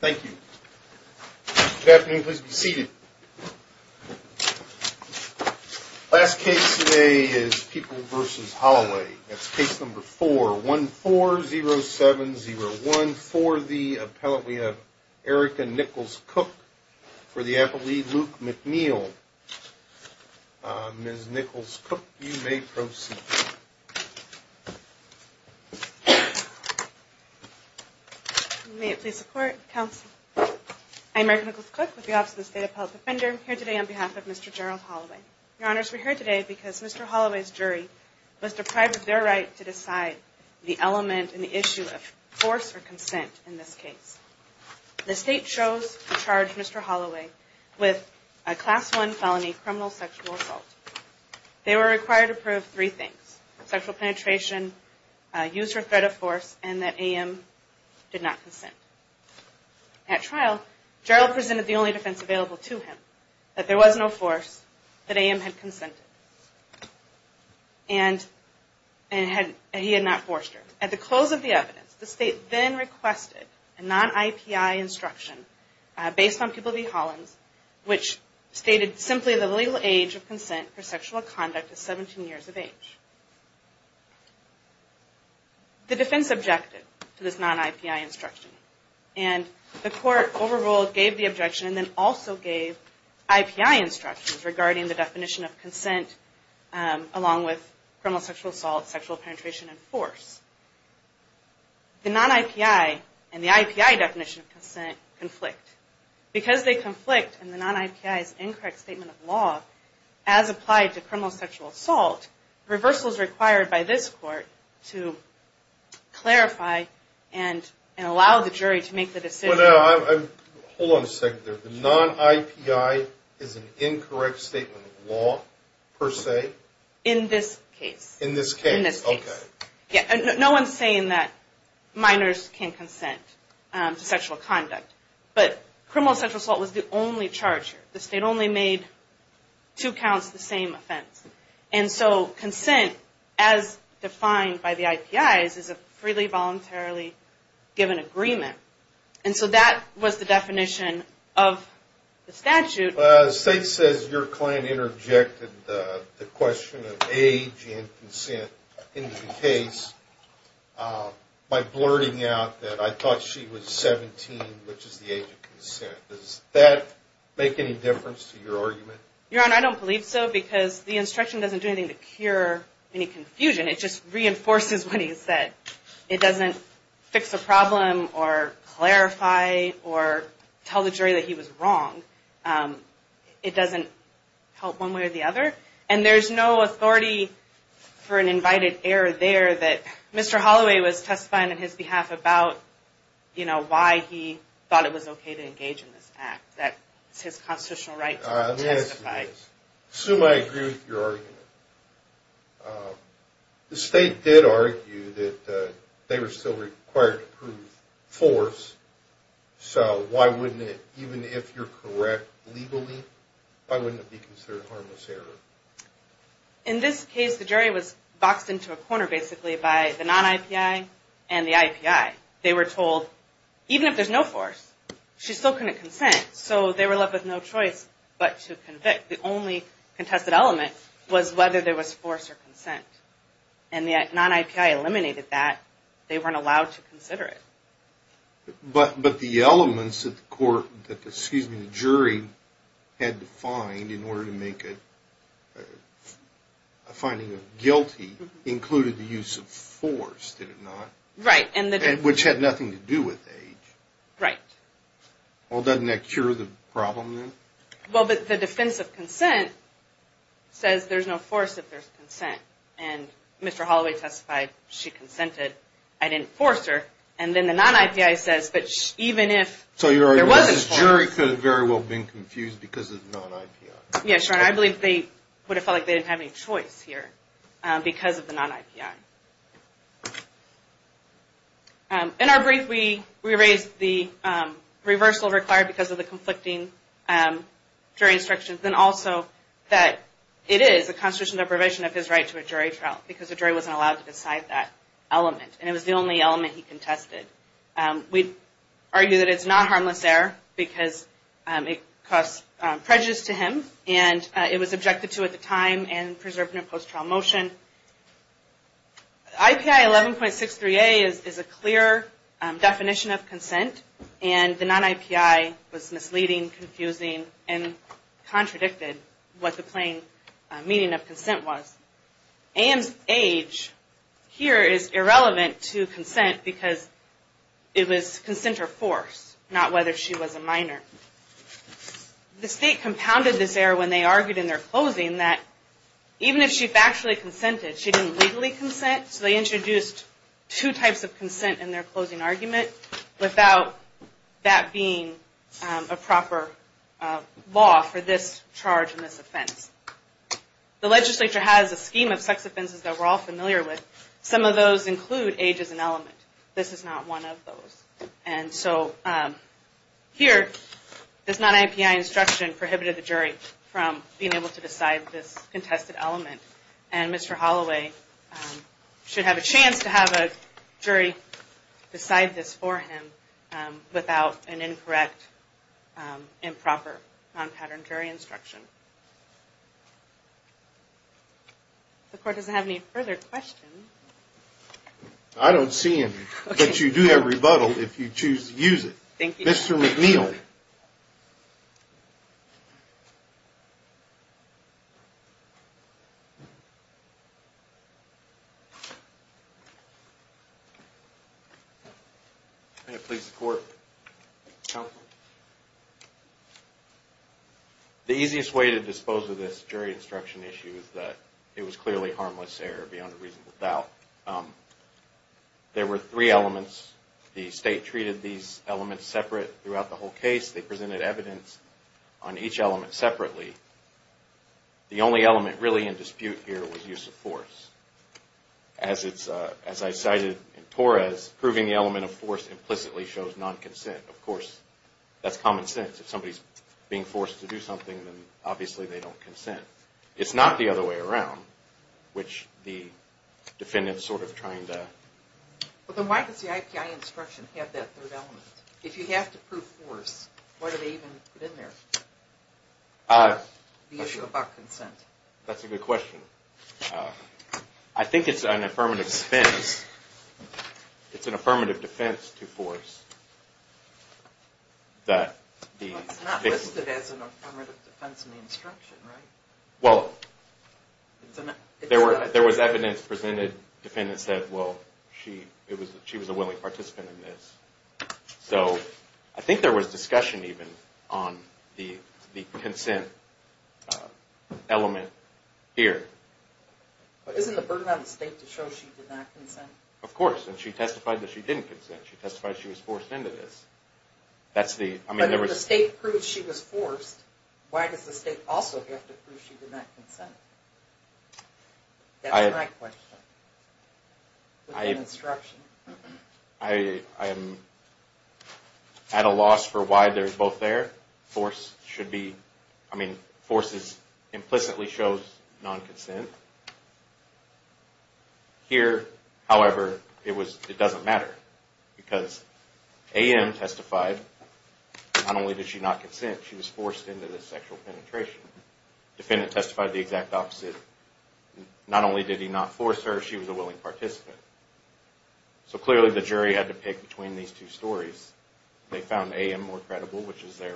Thank you. Good afternoon. Please be seated. Last case today is People v. Holloway. That's case number 4, 140701. For the appellant, we have Erica Nichols-Cook for the appellee, Luke McNeil. Ms. Nichols-Cook, you may proceed. May it please the Court, Counsel. I'm Erica Nichols-Cook with the Office of the State Appellate Defender here today on behalf of Mr. Gerald Holloway. Your Honors, we're here today because Mr. Holloway's jury was deprived of their right to decide the element in the issue of force or consent in this case. The State chose to charge Mr. Holloway with a Class I felony criminal sexual assault. They were required to prove three things, sexual penetration, use or threat of force, and that A.M. did not consent. At trial, Gerald presented the only defense available to him, that there was no force, that A.M. had consented, and he had not forced her. At the close of the evidence, the State then requested a non-IPI instruction based on People v. Holloway, which stated simply the legal age of consent for sexual conduct is 17 years of age. The defense objected to this non-IPI instruction, and the Court overruled, gave the objection, and then also gave IPI instructions regarding the definition of consent along with criminal sexual assault, sexual penetration, and force. The non-IPI and the IPI definition of consent conflict. Because they conflict in the non-IPI's incorrect statement of law, as applied to criminal sexual assault, reversal is required by this Court to clarify and allow the jury to make the decision. Hold on a second there. The non-IPI is an incorrect statement of law, per se? In this case. In this case, okay. No one's saying that minors can consent to sexual conduct, but criminal sexual assault was the only charge here. The State only made two counts the same offense. And so consent, as defined by the IPI, is a freely, voluntarily given agreement. And so that was the definition of the statute. The State says your client interjected the question of age and consent in the case by blurting out that I thought she was 17, which is the age of consent. Does that make any difference to your argument? Your Honor, I don't believe so, because the instruction doesn't do anything to cure any confusion. It just reinforces what he said. It doesn't fix a problem or clarify or tell the jury that he was wrong. It doesn't help one way or the other. And there's no authority for an invited error there that Mr. Holloway was testifying on his behalf about, you know, why he thought it was okay to engage in this act. That's his constitutional right to testify. I assume I agree with your argument. The State did argue that they were still required to prove force, so why wouldn't it, even if you're correct legally, why wouldn't it be considered a harmless error? In this case, the jury was boxed into a corner, basically, by the non-IPI and the IPI. They were told, even if there's no force, she still couldn't consent. So they were left with no choice but to convict. The only contested element was whether there was force or consent. And the non-IPI eliminated that. They weren't allowed to consider it. But the elements that the jury had to find in order to make a finding of guilty included the use of force, did it not? Right. Which had nothing to do with age. Right. Well, doesn't that cure the problem then? Well, but the defense of consent says there's no force if there's consent. And Mr. Holloway testified she consented. I didn't force her. And then the non-IPI says, but even if there wasn't force. So the jury could have very well been confused because of the non-IPI. Yeah, sure. And I believe they would have felt like they didn't have any choice here because of the non-IPI. In our brief, we raised the reversal required because of the conflicting jury instructions, and also that it is a constitutional deprivation of his right to a jury trial because the jury wasn't allowed to decide that element. And it was the only element he contested. We argue that it's not harmless error because it caused prejudice to him, and it was objected to at the time and preserved in a post-trial motion. IPI 11.63A is a clear definition of consent, and the non-IPI was misleading, confusing, and contradicted what the plain meaning of consent was. Ann's age here is irrelevant to consent because it was consent or force, not whether she was a minor. The state compounded this error when they argued in their closing that even if she factually consented, she didn't legally consent, so they introduced two types of consent in their closing argument without that being a proper law for this charge and this offense. The legislature has a scheme of sex offenses that we're all familiar with. Some of those include age as an element. This is not one of those. And so here, this non-IPI instruction prohibited the jury from being able to decide this contested element, and Mr. Holloway should have a chance to have a jury decide this for him without an incorrect, improper, non-pattern jury instruction. The court doesn't have any further questions. I don't see any, but you do have rebuttal if you choose to use it. Thank you. Mr. McNeil. Yes, sir. May it please the court. Counsel. The easiest way to dispose of this jury instruction issue is that it was clearly harmless error beyond a reasonable doubt. There were three elements. The state treated these elements separate throughout the whole case. They presented evidence on each element separately. The only element really in dispute here was use of force. As I cited in Torres, proving the element of force implicitly shows non-consent. Of course, that's common sense. If somebody's being forced to do something, then obviously they don't consent. It's not the other way around, which the defendant's sort of trying to... Then why does the IPI instruction have that third element? If you have to prove force, why do they even put in there the issue about consent? That's a good question. I think it's an affirmative defense. It's an affirmative defense to force that the... It's not listed as an affirmative defense in the instruction, right? Well, there was evidence presented. The defendant said, well, she was a willing participant in this. So I think there was discussion even on the consent element here. But isn't the burden on the state to show she did not consent? Of course, and she testified that she didn't consent. She testified she was forced into this. But if the state proves she was forced, why does the state also have to prove she did not consent? That's my question. In the instruction. I am at a loss for why they're both there. Force should be... I mean, force implicitly shows non-consent. Here, however, it doesn't matter. Because A.M. testified, not only did she not consent, she was forced into this sexual penetration. Defendant testified the exact opposite. Not only did he not force her, she was a willing participant. So clearly the jury had to pick between these two stories. They found A.M. more credible, which is their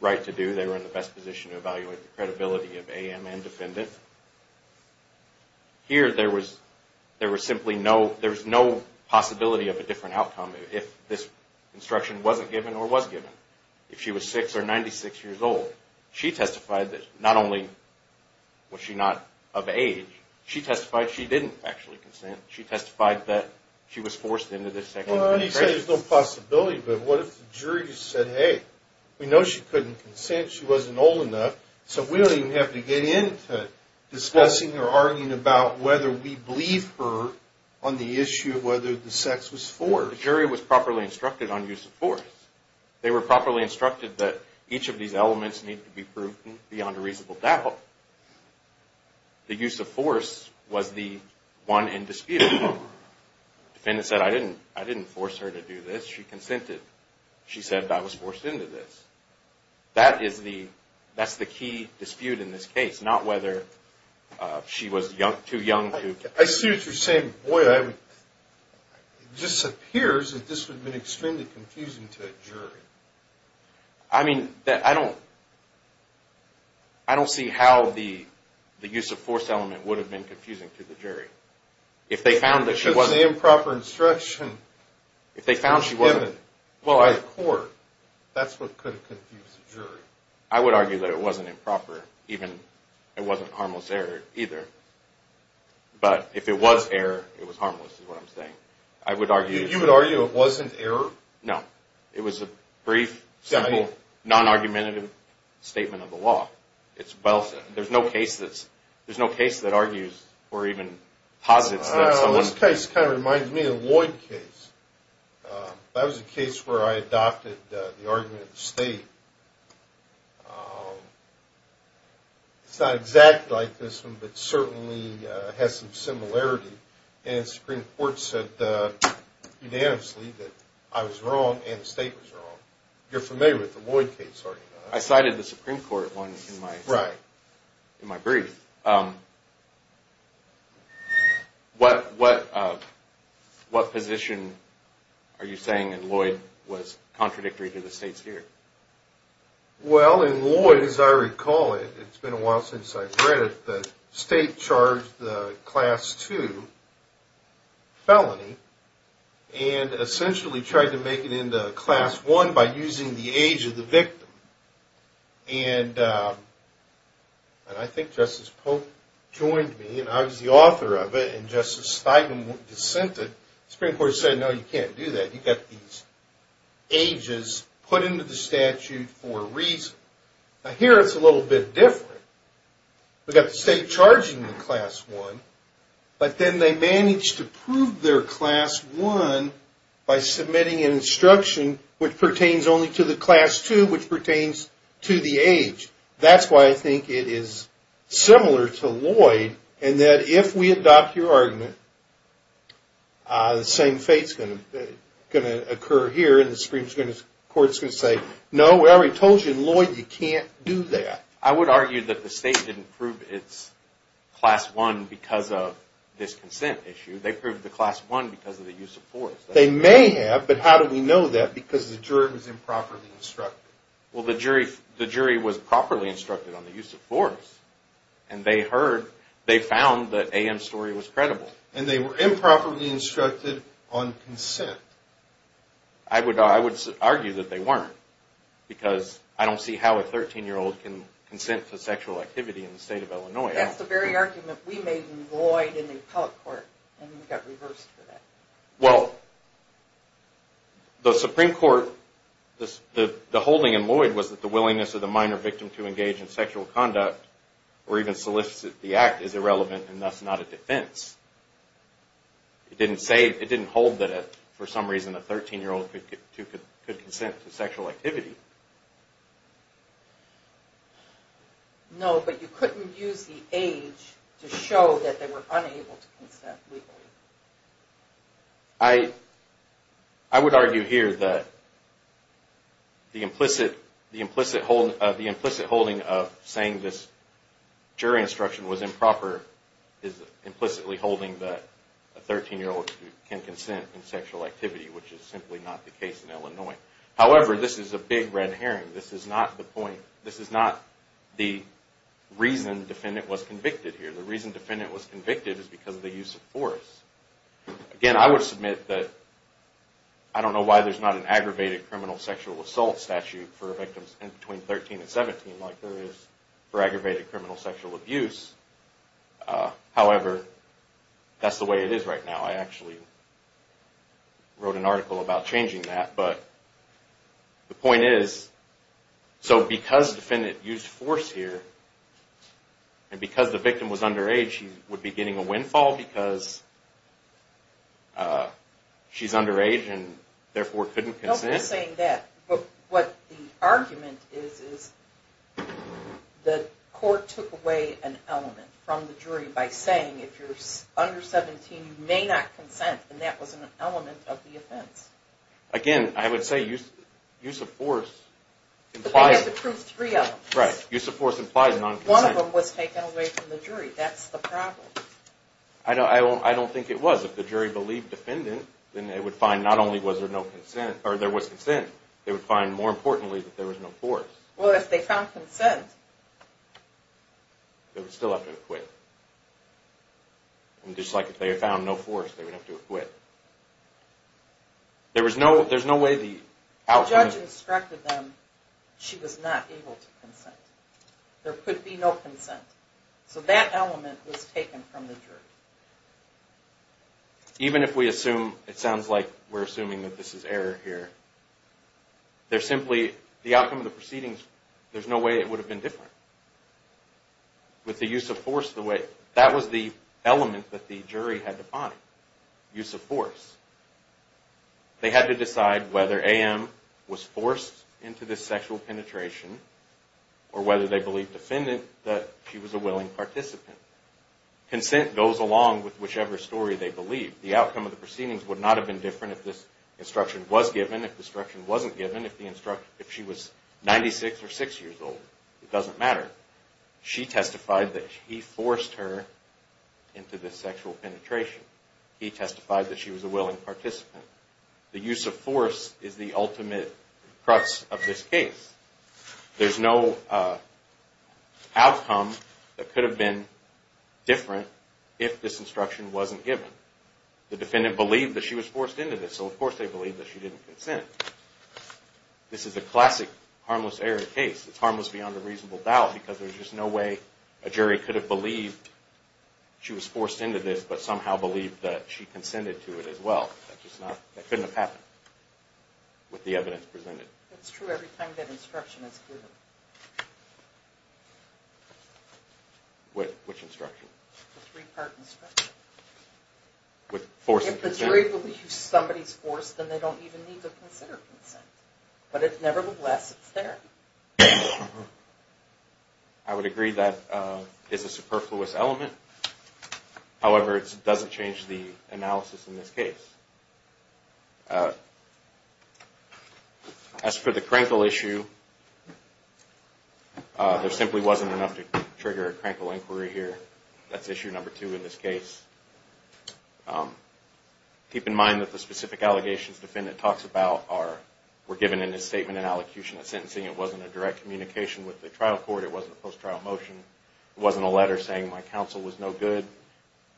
right to do. They were in the best position to evaluate the credibility of A.M. and defendant. Here, there was simply no possibility of a different outcome if this instruction wasn't given or was given. If she was 6 or 96 years old, she testified that not only was she not of age, she testified she didn't actually consent. She testified that she was forced into this sexual penetration. You say there's no possibility, but what if the jury just said, hey, we know she couldn't consent, she wasn't old enough, so we don't even have to get into discussing or arguing about whether we believe her on the issue of whether the sex was forced. The jury was properly instructed on use of force. They were properly instructed that each of these elements need to be proven beyond a reasonable doubt. The use of force was the one indisputable. Defendant said, I didn't force her to do this, she consented. She said, I was forced into this. That is the key dispute in this case, not whether she was too young to... I see what you're saying. It just appears that this would have been extremely confusing to a jury. I mean, I don't see how the use of force element would have been confusing to the jury. If they found that she wasn't... That's what could have confused the jury. I would argue that it wasn't improper. It wasn't harmless error either. But if it was error, it was harmless is what I'm saying. You would argue it wasn't error? No. It was a brief, simple, non-argumentative statement of the law. There's no case that argues or even posits that someone... This case kind of reminds me of the Lloyd case. That was a case where I adopted the argument of the state. It's not exactly like this one, but certainly has some similarity. And the Supreme Court said unanimously that I was wrong and the state was wrong. You're familiar with the Lloyd case, aren't you? I cited the Supreme Court one in my brief. What position are you saying in Lloyd was contradictory to the state's theory? Well, in Lloyd, as I recall it... It's been a while since I've read it. The state charged the Class II felony and essentially tried to make it into Class I by using the age of the victim. And I think Justice Polk joined me, and I was the author of it, and Justice Steinem dissented. The Supreme Court said, no, you can't do that. You've got these ages put into the statute for a reason. Now, here it's a little bit different. We've got the state charging the Class I, but then they managed to prove their Class I by submitting an instruction which pertains only to the Class II, which pertains to the age. That's why I think it is similar to Lloyd in that if we adopt your argument, the same fate's going to occur here, and the Supreme Court's going to say, no, whatever he told you in Lloyd, you can't do that. I would argue that the state didn't prove its Class I because of this consent issue. They proved the Class I because of the use of force. They may have, but how do we know that because the jury was improperly instructed? Well, the jury was properly instructed on the use of force, and they found that A.M.'s story was credible. And they were improperly instructed on consent. I would argue that they weren't because I don't see how a 13-year-old can consent to sexual activity in the state of Illinois. That's the very argument we made in Lloyd in the appellate court, and we got reversed for that. Well, the Supreme Court, the holding in Lloyd was that the willingness of the minor victim to engage in sexual conduct or even solicit the act is irrelevant and thus not a defense. It didn't hold that, for some reason, a 13-year-old could consent to sexual activity. No, but you couldn't use the age to show that they were unable to consent legally. I would argue here that the implicit holding of saying this jury instruction was improper is implicitly holding that a 13-year-old can consent to sexual activity, which is simply not the case in Illinois. However, this is a big red herring. This is not the point. This is not the reason the defendant was convicted here. The reason the defendant was convicted is because of the use of force. Again, I would submit that I don't know why there's not an aggravated criminal sexual assault statute for victims between 13 and 17 like there is for aggravated criminal sexual abuse. However, that's the way it is right now. I actually wrote an article about changing that, but the point is, so because the defendant used force here and because the victim was underage, she would be getting a windfall because she's underage and therefore couldn't consent. Don't be saying that, but what the argument is, is the court took away an element from the jury by saying if you're under 17, you may not consent, and that was an element of the offense. Again, I would say use of force implies... They had to prove three of them. Right. Use of force implies non-consent. One of them was taken away from the jury. That's the problem. I don't think it was. If the jury believed defendant, then they would find not only was there no consent, or there was consent, they would find more importantly that there was no force. Well, if they found consent... They would still have to acquit. Just like if they found no force, they would have to acquit. There's no way the... The judge instructed them she was not able to consent. There could be no consent. So that element was taken from the jury. Even if we assume, it sounds like we're assuming that this is error here, there's simply... The outcome of the proceedings, there's no way it would have been different. With the use of force, the way... That was the element that the jury had to find. Use of force. They had to decide whether A.M. was forced into this sexual penetration, or whether they believed defendant that she was a willing participant. Consent goes along with whichever story they believe. The outcome of the proceedings would not have been different if this instruction was given, if the instruction wasn't given, if she was 96 or 6 years old. It doesn't matter. She testified that he forced her into this sexual penetration. He testified that she was a willing participant. The use of force is the ultimate crux of this case. There's no outcome that could have been different if this instruction wasn't given. The defendant believed that she was forced into this, so of course they believed that she didn't consent. This is a classic harmless error case. It's harmless beyond a reasonable doubt, because there's just no way a jury could have believed she was forced into this, but somehow believed that she consented to it as well. That just not... That couldn't have happened with the evidence presented. It's true every time that instruction is given. Which instruction? The three-part instruction. With forcing consent? If the jury believes somebody's forced, then they don't even need to consider consent. But nevertheless, it's there. I would agree that it's a superfluous element. However, it doesn't change the analysis in this case. As for the Krenkel issue, there simply wasn't enough to trigger a Krenkel inquiry here. That's issue number two in this case. Keep in mind that the specific allegations the defendant talks about were given in his statement in allocution of sentencing. It wasn't a direct communication with the trial court. It wasn't a post-trial motion. It wasn't a letter saying, my counsel was no good.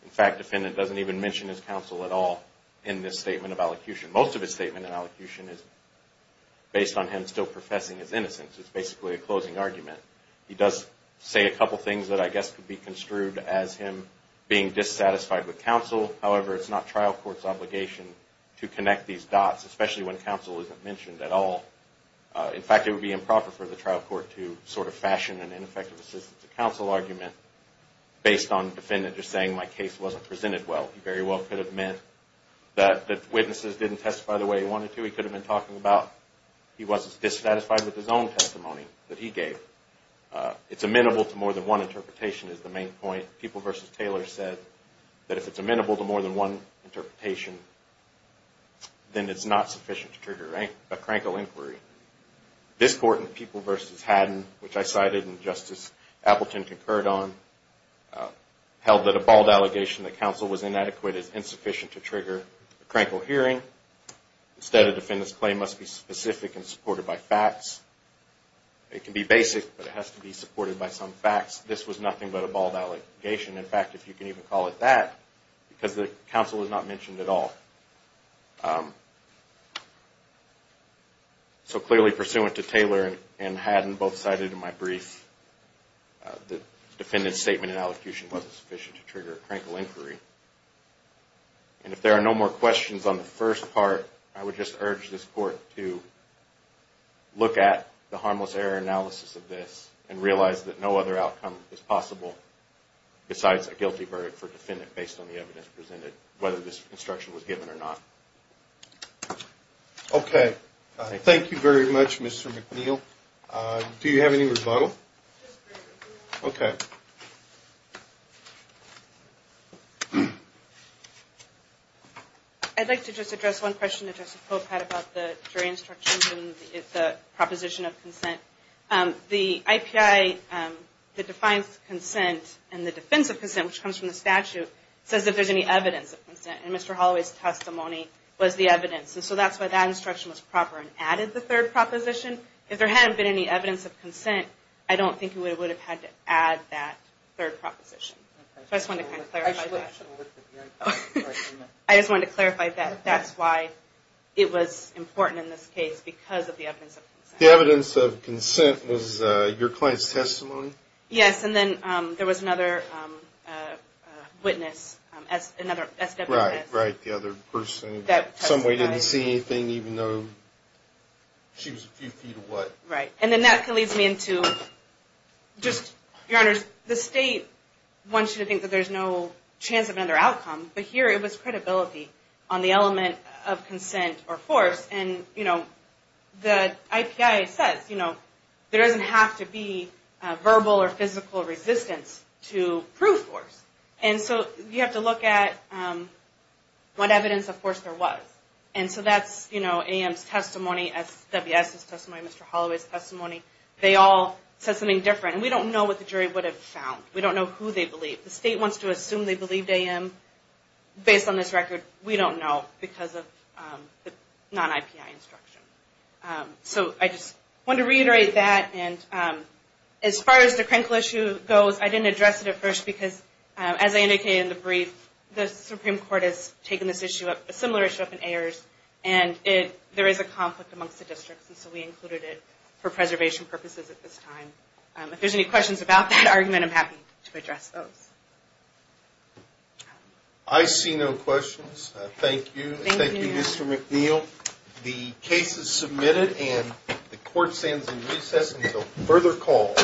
In fact, the defendant doesn't even mention his counsel at all in this statement of allocution. Most of his statement in allocution is based on him still professing his innocence. It's basically a closing argument. He does say a couple things that I guess could be construed as him being dissatisfied with counsel. However, it's not trial court's obligation to connect these dots, especially when counsel isn't mentioned at all. In fact, it would be improper for the trial court to sort of fashion an ineffective assistance to counsel argument based on the defendant just saying, my case wasn't presented well. He very well could have meant that the witnesses didn't testify the way he wanted to. He could have been talking about he wasn't dissatisfied with his own testimony that he gave. It's amenable to more than one interpretation is the main point. People v. Taylor said that if it's amenable to more than one interpretation, then it's not sufficient to trigger a Krenkel inquiry. This court in People v. Haddon, which I cited and Justice Appleton concurred on, held that a bald allegation that counsel was inadequate is insufficient to trigger a Krenkel hearing. Instead, a defendant's claim must be specific and supported by facts. It can be basic, but it has to be supported by some facts. This was nothing but a bald allegation. In fact, if you can even call it that, because the counsel was not mentioned at all. Clearly, pursuant to Taylor and Haddon, both cited in my brief, the defendant's statement in allocution wasn't sufficient to trigger a Krenkel inquiry. If there are no more questions on the first part, I would just urge this court to look at the harmless error analysis of this and realize that no other outcome is possible besides a guilty verdict for a defendant based on the evidence presented, whether this instruction was given or not. Okay. Thank you very much, Mr. McNeil. Do you have any rebuttal? Okay. I'd like to just address one question that Justice Pope had about the jury instructions and the proposition of consent. The IPI that defines consent and the defense of consent, which comes from the statute, says that there's any evidence of consent. And Mr. Holloway's testimony was the evidence. And so that's why that instruction was proper and added the third proposition. If there hadn't been any evidence of consent, I don't think we would have had to add that third proposition. I just wanted to clarify that. I just wanted to clarify that. The evidence of consent was your client's testimony? Yes. And then there was another witness, another SWS. Right, right. The other person that in some way didn't see anything, even though she was a few feet away. Right. And then that leads me into just, Your Honors, the state wants you to think that there's no chance of another outcome. But here it was credibility on the element of consent or force. And, you know, the IPI says, you know, there doesn't have to be verbal or physical resistance to prove force. And so you have to look at what evidence, of course, there was. And so that's, you know, AM's testimony, SWS's testimony, Mr. Holloway's testimony. They all said something different. And we don't know what the jury would have found. We don't know who they believe. The state wants to assume they believed AM based on this record. We don't know because of the non-IPI instruction. So I just wanted to reiterate that. And as far as the Krinkle issue goes, I didn't address it at first because, as I indicated in the brief, the Supreme Court has taken this issue up, a similar issue up in Ayers, and there is a conflict amongst the districts. And so we included it for preservation purposes at this time. If there's any questions about that argument, I'm happy to address those. I see no questions. Thank you. Thank you, Mr. McNeil. The case is submitted and the court stands in recess until further call. Thank you. Thank you.